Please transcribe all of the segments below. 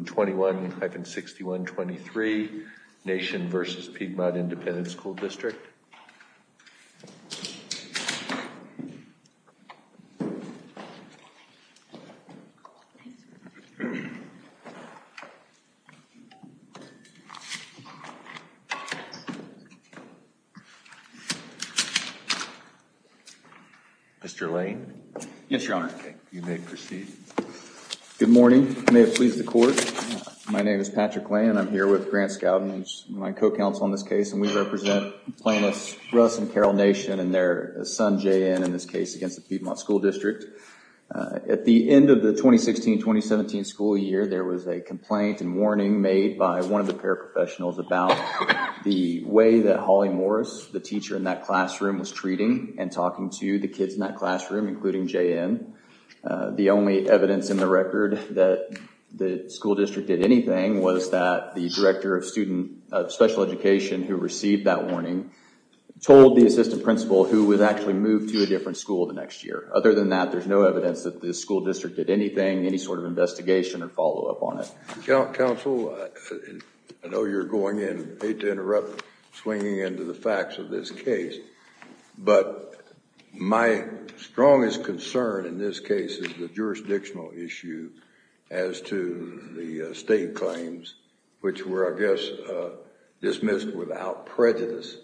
21-61-23 Nation v. Piedmont Independent School District. Mr. Lane. Yes, Your Honor. You may proceed. Good morning. May it please the court. My name is Patrick Lane and I'm here with Grant Scowden, who's my co-counsel in this case, and we represent plaintiffs Russ and Carol Nation and their son, JN, in this case against the Piedmont School District. At the end of the 2016-2017 school year, there was a complaint and warning made by one of the paraprofessionals about the way that Holly Morris, the teacher in that classroom, was treating and talking to the kids in that classroom, including JN. The only evidence in the record that the school district did anything was that the director of special education who received that warning told the assistant principal who was actually moved to a different school the next year. Other than that, there's no evidence that the school district did anything, any sort of investigation or follow-up on it. Counsel, I know you're going in, hate to interrupt, swinging into the facts of this case, but my strongest concern in this case is the jurisdictional issue as to the state claims, which were, I guess, dismissed without prejudice,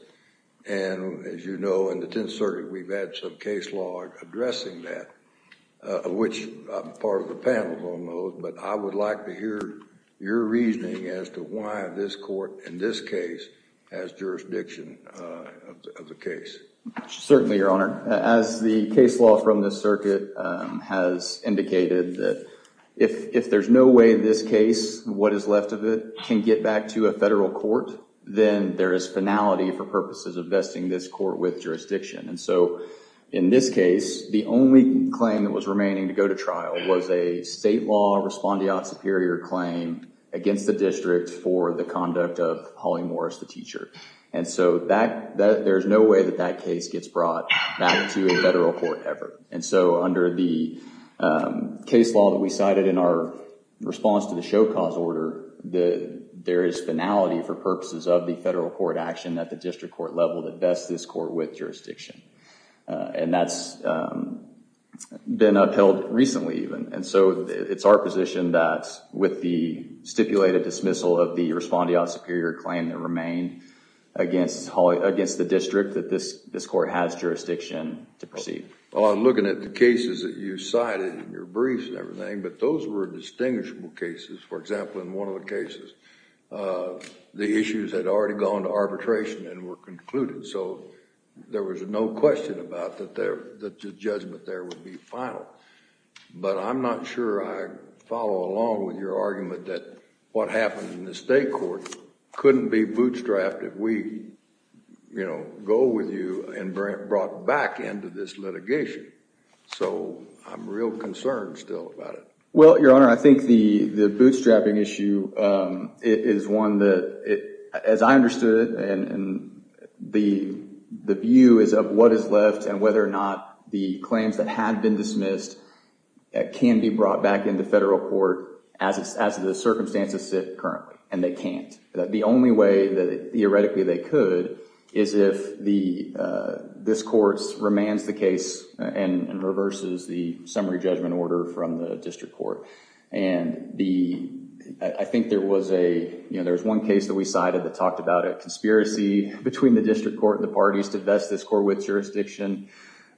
and as you know, in the 10th Circuit, we've had some case law addressing that, which I'm part of the panel on those, but I would like to hear your reasoning as to why this court, in this case, has jurisdiction of the case. Certainly, Your Honor. As the case law from the circuit has indicated, if there's no way this case, what is left of it, can get back to a federal court, then there is finality for purposes of vesting this court with jurisdiction. In this case, the only claim that was remaining to go to trial was a state law respondeat superior claim against the district for the conduct of Holly Morris, the teacher. And so, there's no way that that case gets brought back to a federal court ever. And so, under the case law that we cited in our response to the show cause order, there is finality for purposes of the federal court action at the district court level that vests this court with jurisdiction. And that's been upheld recently, even. And so, it's our position that with the stipulated dismissal of the respondeat superior claim that remained against the district, that this court has jurisdiction to proceed. Well, I'm looking at the cases that you cited in your briefs and everything, but those were distinguishable cases. For example, in one of the cases, the issues had already gone to arbitration and were concluded. So, there was no question about that the judgment there would be final. But I'm not sure I follow along with your argument that what happened in the state court couldn't be bootstrapped if we, you know, go with you and brought back into this litigation. So, I'm real concerned still about it. Well, Your Honor, I think the bootstrapping issue is one that, as I understood it, and the view is of what is left and whether or not the claims that had been dismissed can be brought back into federal court as the circumstances sit currently. And they can't. The only way that theoretically they could is if this court remands the case and reverses the summary judgment order from the district court. And I think there was a, you know, there was one case that we cited that talked about a conspiracy between the district court and the parties to vest this court with jurisdiction.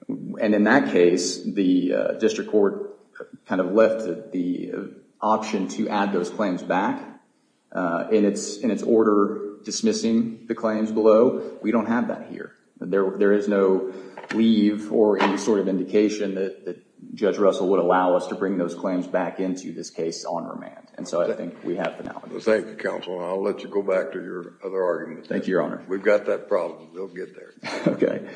And in that case, the district court kind of left the option to add those claims back in its order dismissing the claims below. We don't have that here. There is no leave or any sort of indication that Judge Russell would allow us to bring those claims back into this case on remand. And so, I think we have the now. Thank you, counsel. I'll let you go back to your other argument. Thank you, Your Honor. We've got that problem. We'll get there. Okay.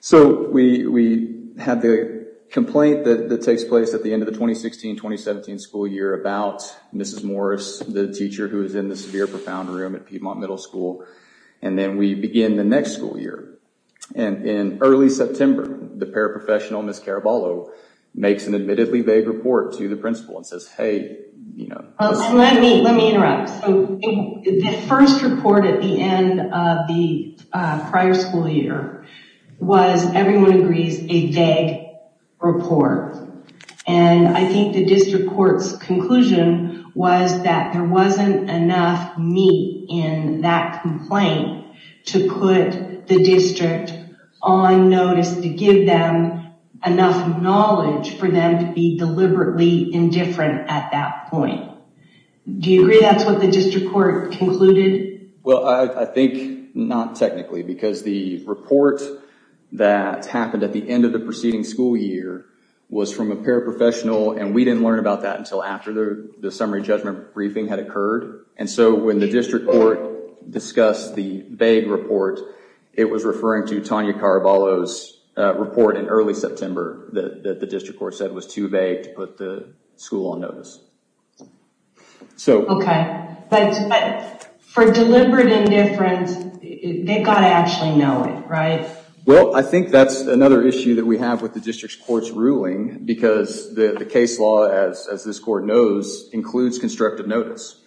So, we have the complaint that takes place at the end of the 2016-2017 school year about Mrs. Morris, the teacher who is in the severe profound room at Piedmont Middle School. And then we begin the next school year. And in early September, the paraprofessional, Ms. Caraballo, makes an admittedly vague report to the principal and says, hey, you know. Let me interrupt. So, the first report at the end of the prior school year was, everyone agrees, a vague report. And I think the district court's conclusion was that there wasn't enough meat in that complaint to put the district on notice to give them enough knowledge for them to be deliberately indifferent at that point. Do you agree that's what the district court concluded? Well, I think not technically because the report that happened at the end of the preceding school year was from a paraprofessional and we didn't learn about that until after the summary judgment briefing had occurred. And so, when the district court discussed the vague report, it was referring to Tanya Caraballo's report in early September that the district court said was too vague to put the school on notice. Okay. But for deliberate indifference, they've got to actually know it, right? Well, I think that's another issue that we have with the district court's ruling because the case law, as this court knows, includes constructive notice.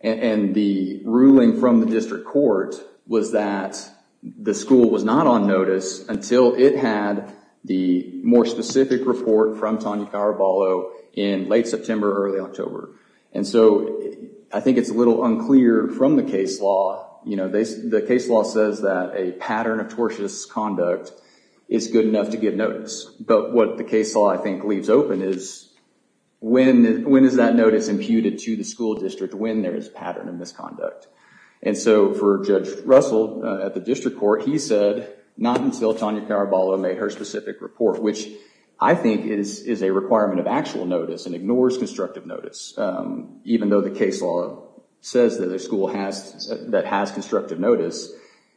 And the ruling from the district court was that the school was not on notice until it had the more specific report from Tanya Caraballo in late September, early October. And so, I think it's a little unclear from the case law, you know, the case law says that a pattern of tortious conduct is good enough to get notice. But what the case law, I think, leaves open is when is that notice imputed to the school district when there is pattern of misconduct? And so, for Judge Russell, at the district court, he said not until Tanya Caraballo made her specific report, which I think is a requirement of actual notice and ignores constructive notice, even though the case law says that a school that has constructive notice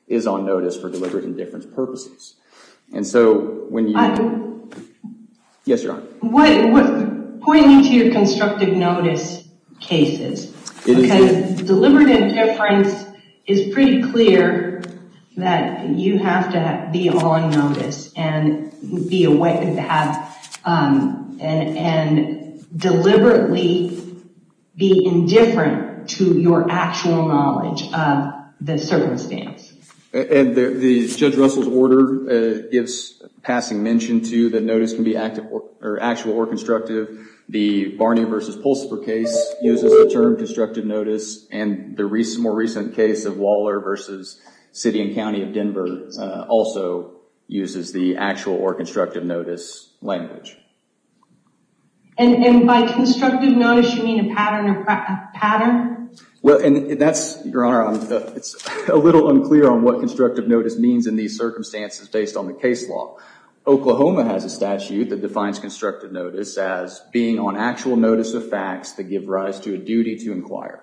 is on notice for deliberate indifference purposes. And so, when you... Yes, Your Honor. What... Pointing to your constructive notice cases, because deliberate indifference is pretty clear that you have to be on notice and be aware of that and deliberately be indifferent to your actual knowledge of the circumstance. And the Judge Russell's order gives passing mention to the notice can be active or actual or constructive. The Barney versus Pulsiper case uses the term constructive notice and the more recent case of Waller versus City and County of Denver also uses the actual or constructive notice language. And by constructive notice, you mean a pattern of pattern? Well, and that's, Your Honor, it's a little unclear on what constructive notice means in these circumstances based on the case law. Oklahoma has a statute that defines constructive notice as being on actual notice of facts that give rise to a duty to inquire.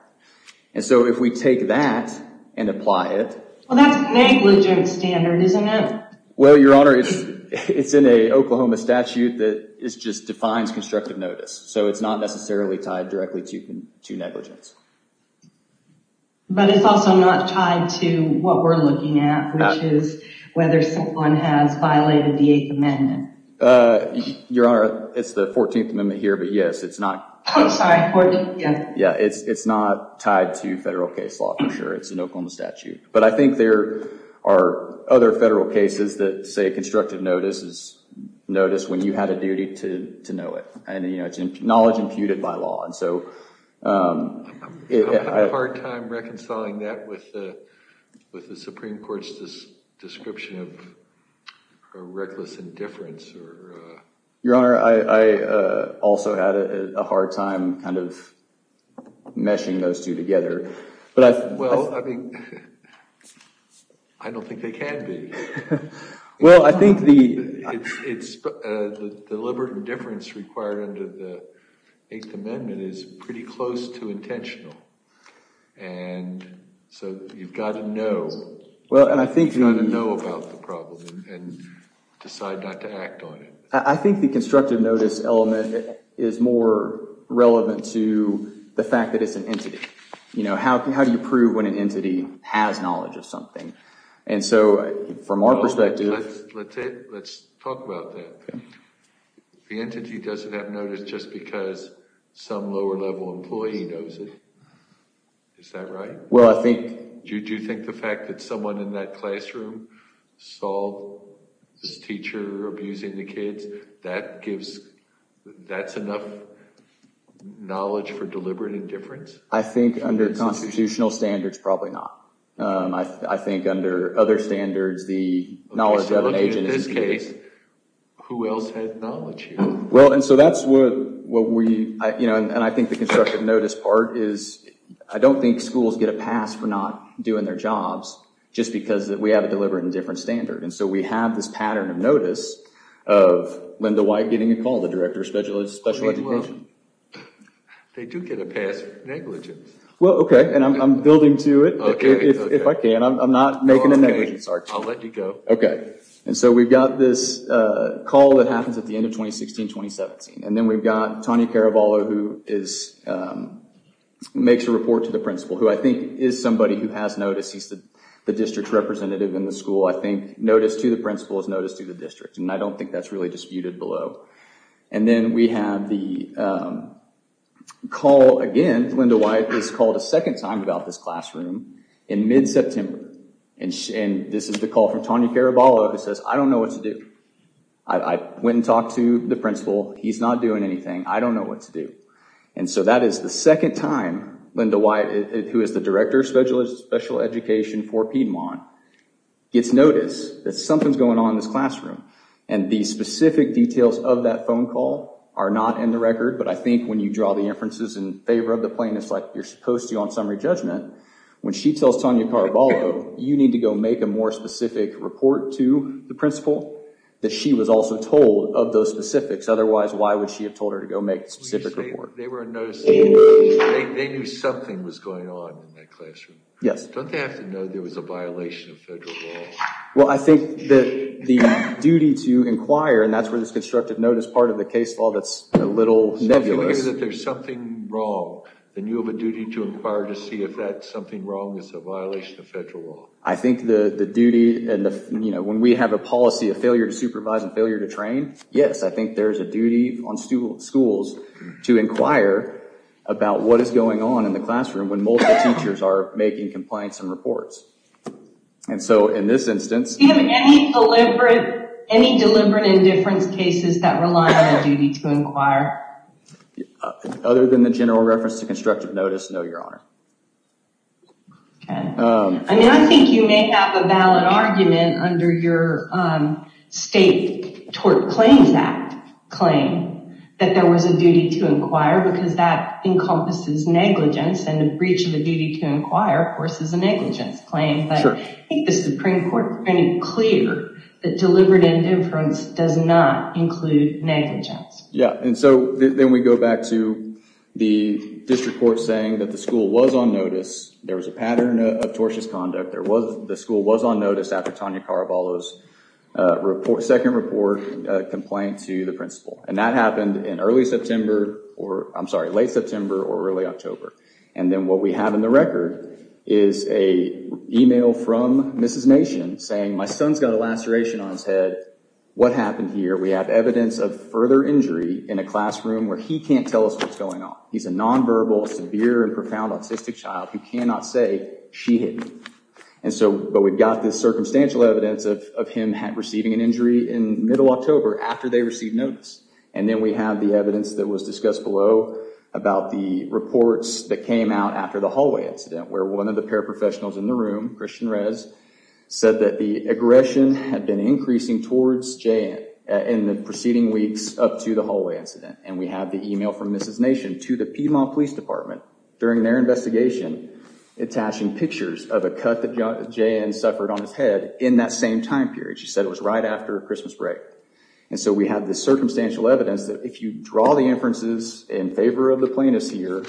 And so, if we take that and apply it... Well, that's negligent standard, isn't it? Well, Your Honor, it's in a Oklahoma statute that just defines constructive notice. So it's not necessarily tied directly to negligence. But it's also not tied to what we're looking at, which is whether someone has violated the Eighth Amendment. Your Honor, it's the 14th Amendment here, but yes, it's not... I'm sorry, 14th, yeah. Yeah, it's not tied to federal case law for sure. It's an Oklahoma statute. But I think there are other federal cases that say constructive notice is notice when you had a duty to know it. And, you know, it's knowledge imputed by law. And so... I'm having a hard time reconciling that with the Supreme Court's description of reckless indifference or... Your Honor, I also had a hard time kind of meshing those two together. But I... Well, I mean, I don't think they can be. Well, I think the... Well, I think the... Well, I think the... I think the constructive notice element is more relevant to the fact that it's an entity. You know, how do you prove when an entity has knowledge of something? And so from our perspective... Let's talk about that. Okay. If the entity doesn't have notice just because some lower-level employee knows it, is that right? Well, I think... Do you think the fact that someone in that classroom saw this teacher abusing the kids, that gives... That's enough knowledge for deliberate indifference? I think under constitutional standards, probably not. I think under other standards, the knowledge of an agent is indicated. In that case, who else has knowledge here? Well, and so that's what we... And I think the constructive notice part is... I don't think schools get a pass for not doing their jobs just because we have a deliberate indifference standard. And so we have this pattern of notice of Linda White getting a call, the Director of Special Education. Okay, well, they do get a pass for negligence. Well, okay. And I'm building to it. Okay. If I can. I'm not making a negligence argument. Okay. I'll let you go. Okay. And so we've got this call that happens at the end of 2016-2017. And then we've got Tawny Caravallo, who makes a report to the principal, who I think is somebody who has notice. He's the district representative in the school. I think notice to the principal is notice to the district, and I don't think that's really disputed below. And then we have the call, again, Linda White is called a second time about this classroom in mid-September. And this is the call from Tawny Caravallo, who says, I don't know what to do. I went and talked to the principal. He's not doing anything. I don't know what to do. And so that is the second time Linda White, who is the Director of Special Education for Piedmont, gets notice that something's going on in this classroom. And the specific details of that phone call are not in the record. But I think when you draw the inferences in favor of the plaintiffs, like you're supposed to on summary judgment, when she tells Tawny Caravallo, you need to go make a more specific report to the principal, that she was also told of those specifics. Otherwise, why would she have told her to go make a specific report? They were noticing. They knew something was going on in that classroom. Yes. Don't they have to know there was a violation of federal law? Well, I think that the duty to inquire, and that's where this constructive notice part of the case law that's a little nebulous. If you think that there's something wrong, then you have a duty to inquire to see if that something wrong is a violation of federal law. I think the duty, and when we have a policy of failure to supervise and failure to train, yes, I think there's a duty on schools to inquire about what is going on in the classroom when multiple teachers are making compliance and reports. And so in this instance. Do you have any deliberate indifference cases that rely on a duty to inquire? Other than the general reference to constructive notice, no, your honor. Okay. I mean, I think you may have a valid argument under your state tort claims act claim that there was a duty to inquire because that encompasses negligence, and the breach of the duty to inquire, of course, is a negligence claim. Sure. But I think the Supreme Court made it clear that deliberate indifference does not include negligence. Yeah. And so then we go back to the district court saying that the school was on notice, there was a pattern of tortious conduct, the school was on notice after Tanya Caraballo's second report complaint to the principal. And that happened in early September, or I'm sorry, late September or early October. And then what we have in the record is a email from Mrs. Nation saying, my son's got a laceration on his head. What happened here? We have evidence of further injury in a classroom where he can't tell us what's going on. He's a nonverbal, severe and profound autistic child who cannot say she hit me. And so, but we've got this circumstantial evidence of him receiving an injury in middle October after they received notice. And then we have the evidence that was discussed below about the reports that came out after the hallway incident where one of the paraprofessionals in the room, Christian Rez, said that the aggression had been increasing towards Jayan in the preceding weeks up to the hallway incident. And we have the email from Mrs. Nation to the Piedmont Police Department during their investigation attaching pictures of a cut that Jayan suffered on his head in that same time period. She said it was right after Christmas break. And so we have this circumstantial evidence that if you draw the inferences in favor of the plaintiffs here,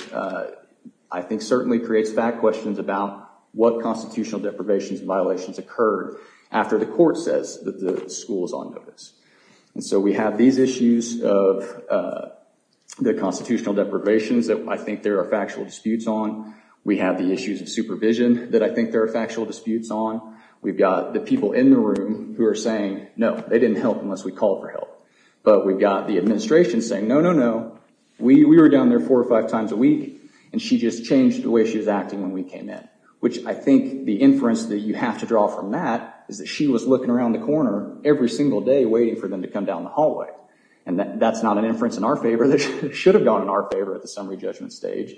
I think certainly creates back questions about what constitutional deprivations and violations occurred after the court says that the school is on notice. And so we have these issues of the constitutional deprivations that I think there are factual disputes on. We have the issues of supervision that I think there are factual disputes on. We've got the people in the room who are saying, no, they didn't help unless we called for help. But we've got the administration saying, no, no, no, we were down there four or five times a week and she just changed the way she was acting when we came in, which I think the inference that you have to draw from that is that she was looking around the corner every single day waiting for them to come down the hallway. And that's not an inference in our favor that should have gone in our favor at the summary judgment stage.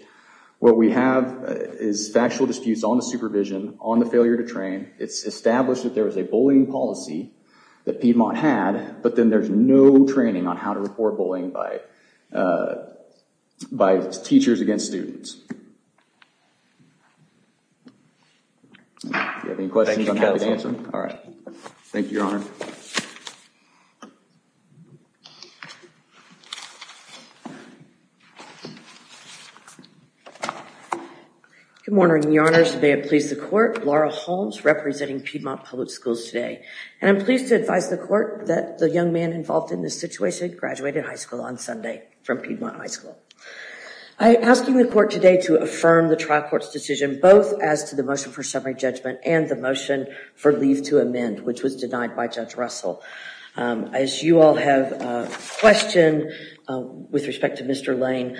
What we have is factual disputes on the supervision, on the failure to train. It's established that there was a bullying policy that Piedmont had, but then there's no training on how to report bullying by teachers against students. If you have any questions, I'm happy to answer them. All right. Thank you, Your Honor. Thank you, Your Honor. Good morning, Your Honors. May it please the Court. Laura Holmes, representing Piedmont Public Schools today. And I'm pleased to advise the Court that the young man involved in this situation graduated high school on Sunday from Piedmont High School. I'm asking the Court today to affirm the trial court's decision both as to the motion for Judge Russell. As you all have questioned, with respect to Mr. Lane,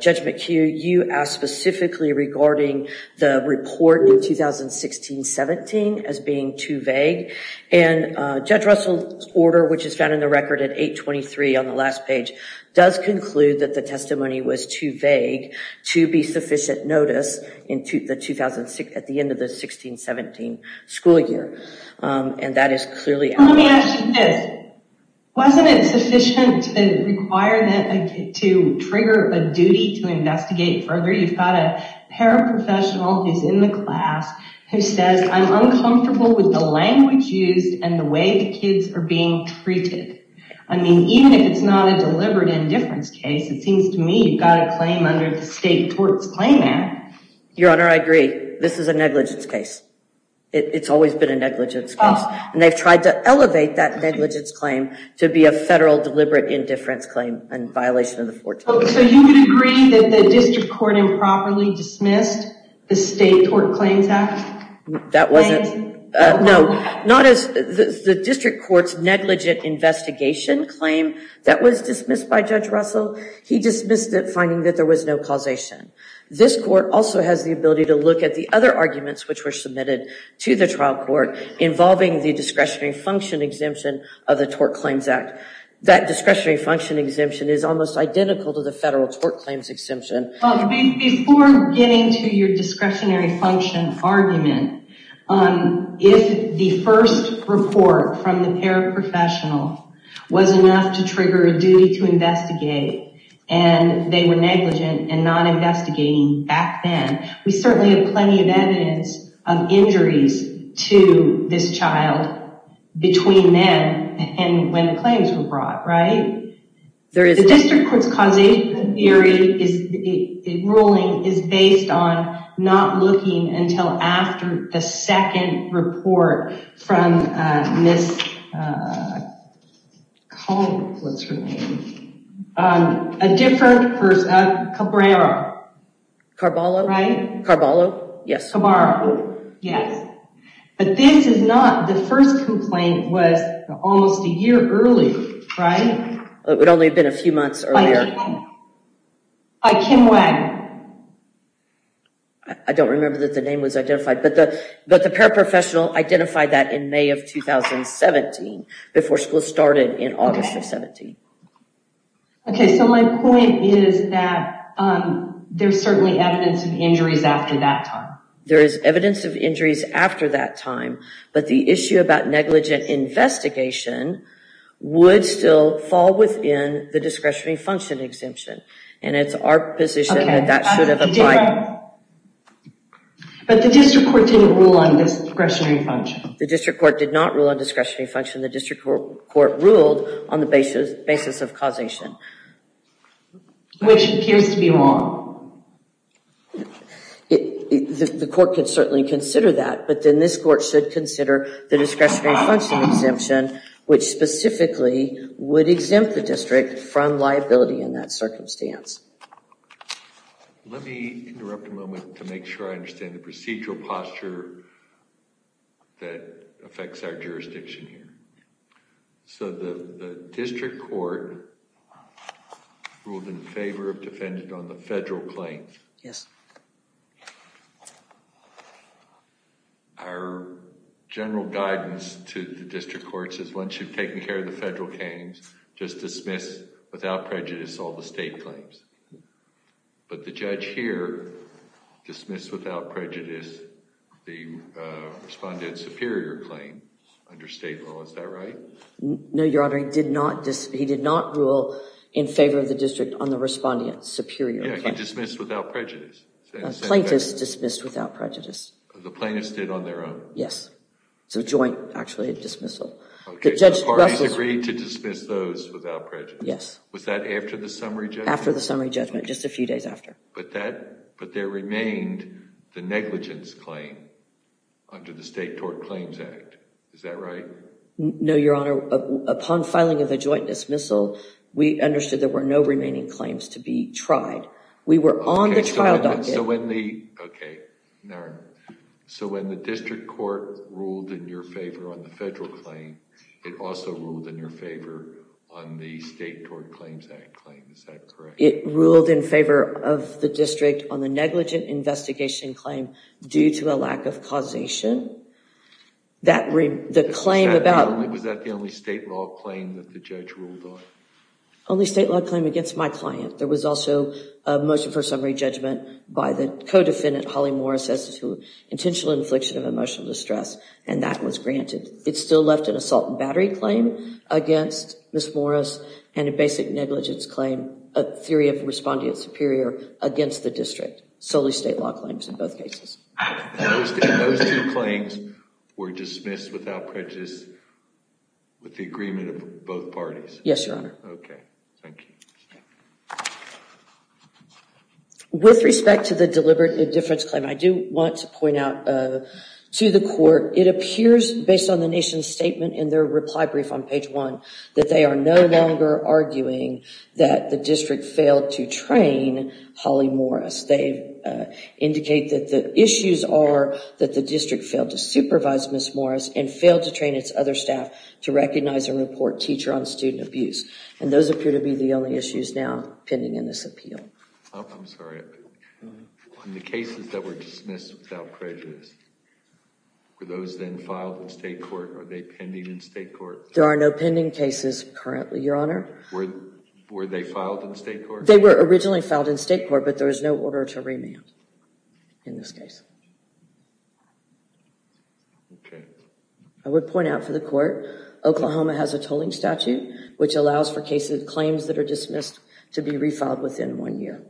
Judge McHugh, you asked specifically regarding the report in 2016-17 as being too vague. And Judge Russell's order, which is found in the record at 823 on the last page, does conclude that the testimony was too vague to be sufficient notice at the end of the 16-17 school year. And that is clearly- Let me ask you this, wasn't it sufficient to require that, to trigger a duty to investigate further? You've got a paraprofessional who's in the class who says, I'm uncomfortable with the language used and the way the kids are being treated. I mean, even if it's not a deliberate indifference case, it seems to me you've got a claim under the State Torts Claim Act. Your Honor, I agree. This is a negligence case. It's always been a negligence case. And they've tried to elevate that negligence claim to be a federal deliberate indifference claim in violation of the 14th. So you would agree that the district court improperly dismissed the State Tort Claims Act? That wasn't- No. Not as the district court's negligent investigation claim that was dismissed by Judge Russell. He dismissed it finding that there was no causation. This court also has the ability to look at the other arguments which were submitted to the trial court involving the discretionary function exemption of the Tort Claims Act. That discretionary function exemption is almost identical to the federal tort claims exemption. Before getting to your discretionary function argument, if the first report from the paraprofessional was enough to trigger a duty to investigate and they were negligent and not investigating back then, we certainly have plenty of evidence of injuries to this child between then and when the claims were brought, right? There is- The district court's causation theory, ruling, is based on not looking until after the second report from Ms. Cobb, what's her name, a different person, Cabrera. Carballo. Right? Carballo. Yes. Cabrera. Yes. But this is not, the first complaint was almost a year early, right? It would only have been a few months earlier. By Kim Wagon. I don't remember that the name was identified. But the paraprofessional identified that in May of 2017 before school started in August of 17. Okay, so my point is that there's certainly evidence of injuries after that time. There is evidence of injuries after that time, but the issue about negligent investigation would still fall within the discretionary function exemption. And it's our position that that should have applied. But the district court didn't rule on this discretionary function. The district court did not rule on discretionary function. The district court ruled on the basis of causation. Which appears to be wrong. The court can certainly consider that, but then this court should consider the discretionary function exemption, which specifically would exempt the district from liability in that circumstance. Let me interrupt a moment to make sure I understand the procedural posture that affects our jurisdiction here. So the district court ruled in favor of defendant on the federal claim. Yes. Our general guidance to the district court is once you've taken care of the federal claims, just dismiss without prejudice all the state claims. But the judge here dismissed without prejudice the respondent superior claim under state law. Is that right? No, Your Honor. He did not rule in favor of the district on the respondent superior claim. Yeah, he dismissed without prejudice. Plaintiffs dismissed without prejudice. The plaintiffs did on their own? Yes. It's a joint, actually, dismissal. The parties agreed to dismiss those without prejudice. Yes. Was that after the summary judgment? After the summary judgment. Just a few days after. But there remained the negligence claim under the State Tort Claims Act. Is that right? No, Your Honor. Upon filing of the joint dismissal, we understood there were no remaining claims to be tried. We were on the trial document. Okay. So when the district court ruled in your favor on the federal claim, it also ruled in your favor on the State Tort Claims Act claim. Is that correct? It ruled in favor of the district on the negligent investigation claim due to a lack of causation. The claim about... Was that the only state law claim that the judge ruled on? Only state law claim against my client. There was also a motion for summary judgment by the co-defendant, Holly Morris, as to intentional infliction of emotional distress, and that was granted. It still left an assault and battery claim against Ms. Morris and a basic negligence claim, a theory of respondent superior, against the district. Solely state law claims in both cases. Those two claims were dismissed without prejudice with the agreement of both parties? Yes, Your Honor. Okay. Thank you. With respect to the deliberate indifference claim, I do want to point out to the court, it appears, based on the nation's statement in their reply brief on page one, that they are no longer arguing that the district failed to train Holly Morris. They indicate that the issues are that the district failed to supervise Ms. Morris and failed to train its other staff to recognize and report teacher-on-student abuse. Those appear to be the only issues now pending in this appeal. I'm sorry. In the cases that were dismissed without prejudice, were those then filed in state court? Are they pending in state court? There are no pending cases currently, Your Honor. Were they filed in state court? They were originally filed in state court, but there is no order to remand in this case. Okay. I would point out for the court, Oklahoma has a tolling statute, which allows for cases, claims that are dismissed, to be refiled within one year.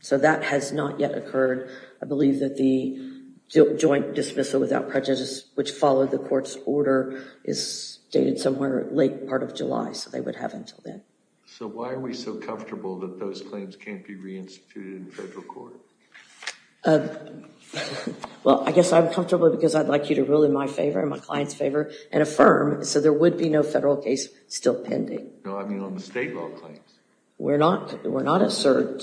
So that has not yet occurred. I believe that the joint dismissal without prejudice, which followed the court's order, is dated somewhere late part of July, so they would have until then. So why are we so comfortable that those claims can't be reinstituted in federal court? Well, I guess I'm comfortable because I'd like you to rule in my favor and my client's favor and affirm so there would be no federal case still pending. No, I mean on the state law claims. We're not assured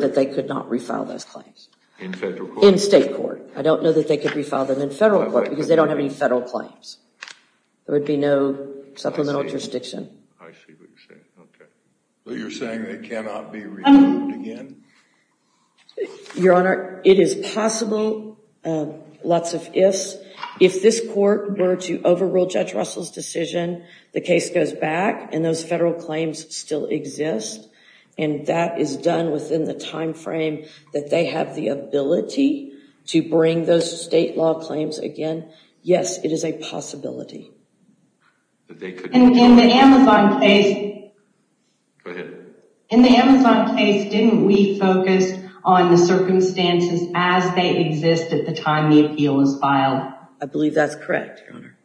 that they could not refile those claims. In federal court? In state court. I don't know that they could refile them in federal court because they don't have any federal claims. There would be no supplemental jurisdiction. I see what you're saying. Okay. So you're saying they cannot be removed again? Your Honor, it is possible. Lots of ifs. If this court were to overrule Judge Russell's decision, the case goes back and those federal claims still exist. And that is done within the time frame that they have the ability to bring those state law claims again. Yes, it is a possibility. In the Amazon case, didn't we focus on the circumstances as they exist at the time the appeal was filed? I believe that's correct, Your Honor.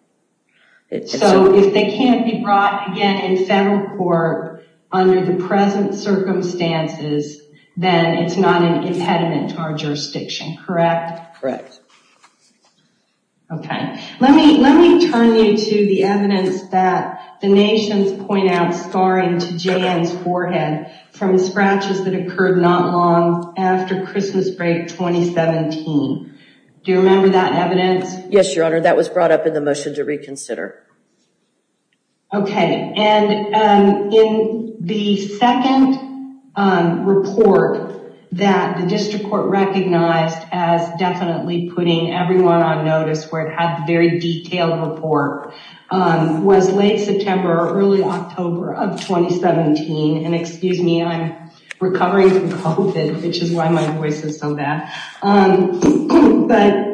So if they can't be brought again in federal court under the present circumstances, then it's not an impediment to our jurisdiction, correct? Correct. Okay. Let me turn you to the evidence that the Nations point out scarring to J.N.'s forehead from scratches that occurred not long after Christmas break 2017. Do you remember that evidence? Yes, Your Honor. That was brought up in the motion to reconsider. Okay. And in the second report that the district court recognized as definitely putting everyone on notice where it had very detailed report was late September, early October of 2017. And excuse me, I'm recovering from COVID, which is why my voice is so bad. But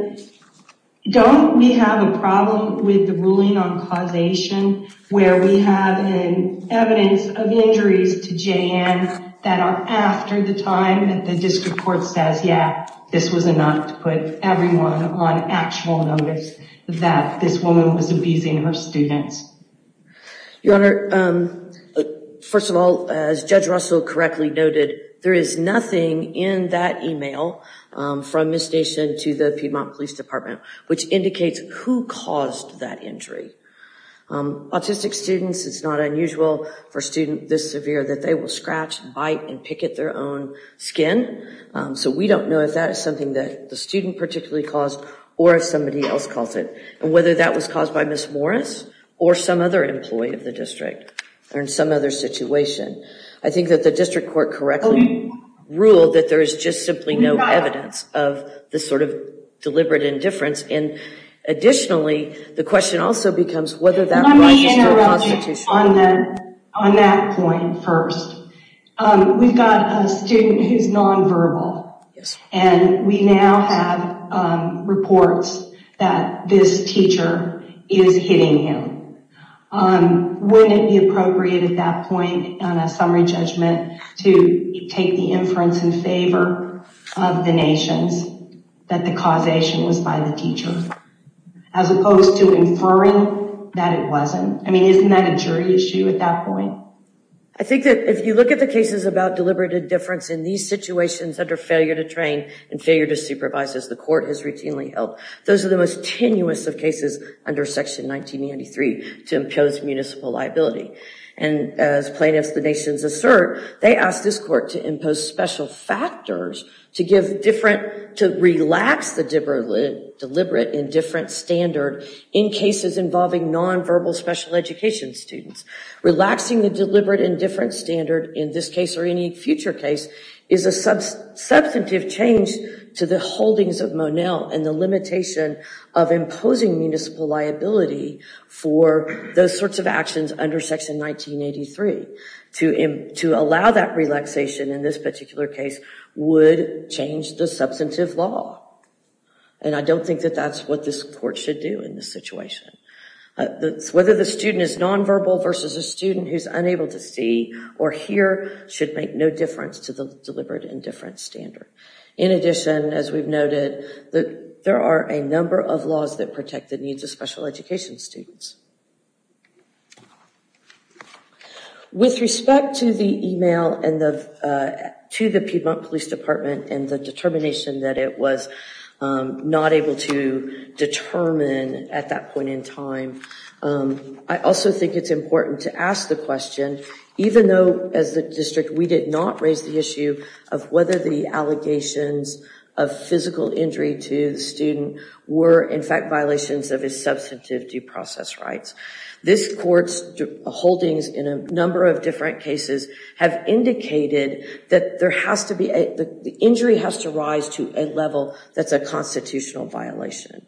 don't we have a problem with the ruling on causation where we have evidence of injuries to J.N. that are after the time that the district court says, yeah, this was enough to put everyone on actual notice that this woman was abusing her students? Your Honor, first of all, as Judge Russell correctly noted, there is nothing in that email from Miss Nation to the Piedmont Police Department which indicates who caused that injury. Autistic students, it's not unusual for a student this severe that they will scratch, bite, and pick at their own skin. So we don't know if that is something that the student particularly caused or if somebody else caused it. And whether that was caused by Miss Morris or some other employee of the district or in some other situation. I think that the district court correctly ruled that there is just simply no evidence of this sort of deliberate indifference. And additionally, the question also becomes whether that right is still constitutional. Let me interrupt you on that point first. We've got a student who's nonverbal and we now have reports that this teacher is hitting him. Wouldn't it be appropriate at that point on a summary judgment to take the inference in favor of the Nations that the causation was by the teacher? As opposed to inferring that it wasn't. I mean, isn't that a jury issue at that point? I think that if you look at the cases about deliberate indifference in these situations under failure to train and failure to supervise as the court has routinely held, those are the most tenuous of cases under Section 1993 to impose municipal liability. And as plaintiffs, the Nations assert, they asked this court to impose special factors to give different, to relax the deliberate indifference standard in cases involving nonverbal special education students. Relaxing the deliberate indifference standard in this case or any future case is a substantive change to the holdings of Monell and the limitation of imposing municipal liability for those sorts of actions under Section 1983. To allow that relaxation in this particular case would change the substantive law. And I don't think that that's what this court should do in this situation. Whether the student is nonverbal versus a student who's unable to see or hear should make no difference to the deliberate indifference standard. In addition, as we've noted, there are a number of laws that protect the needs of special education students. With respect to the email to the Piedmont Police Department and the determination that it was not able to determine at that point in time, I also think it's important to ask the question, even though as the district we did not raise the issue of whether the allegations of physical injury to the student were in fact violations of his substantive due process rights. This court's holdings in a number of different cases have indicated that the injury has to rise to a level that's a constitutional violation.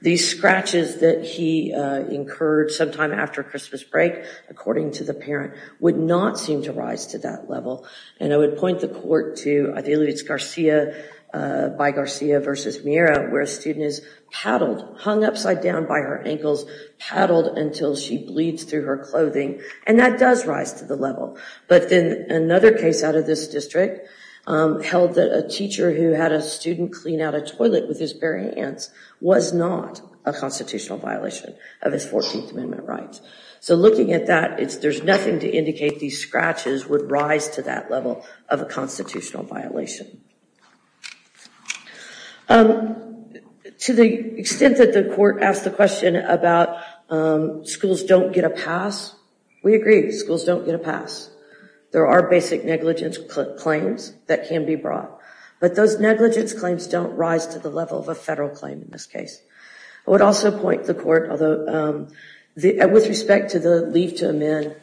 These scratches that he incurred sometime after Christmas break, according to the parent, would not seem to rise to that level. And I would point the court to, I believe it's Garcia, by Garcia versus Mira, where a student is paddled, hung upside down by her ankles, paddled until she bleeds through her clothing, and that does rise to the level. But then another case out of this district held that a teacher who had a student clean out a toilet with his bare hands was not a constitutional violation of his 14th Amendment rights. So looking at that, there's nothing to indicate these scratches would rise to that level of a constitutional violation. To the extent that the court asked the question about schools don't get a pass, we agree, schools don't get a pass. There are basic negligence claims that can be brought, but those negligence claims don't rise to the level of a federal claim in this case. I would also point the court, with respect to the leave to amend,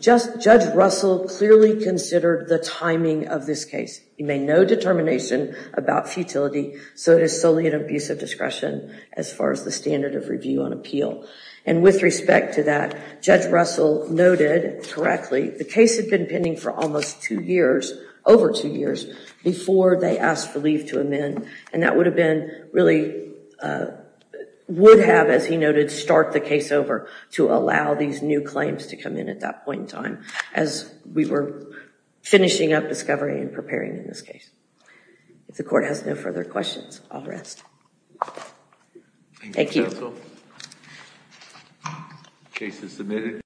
Judge Russell clearly considered the timing of this case. He made no determination about futility, so it is solely an abuse of discretion as far as the standard of review and appeal. And with respect to that, Judge Russell noted correctly the case had been pending for almost two years, over two years, before they asked for leave to amend. And that would have been, really, would have, as he noted, start the case over to allow these new claims to come in at that point in time, as we were finishing up discovery and preparing in this case. If the court has no further questions, I'll rest. Thank you. Thank you, counsel. Case is submitted.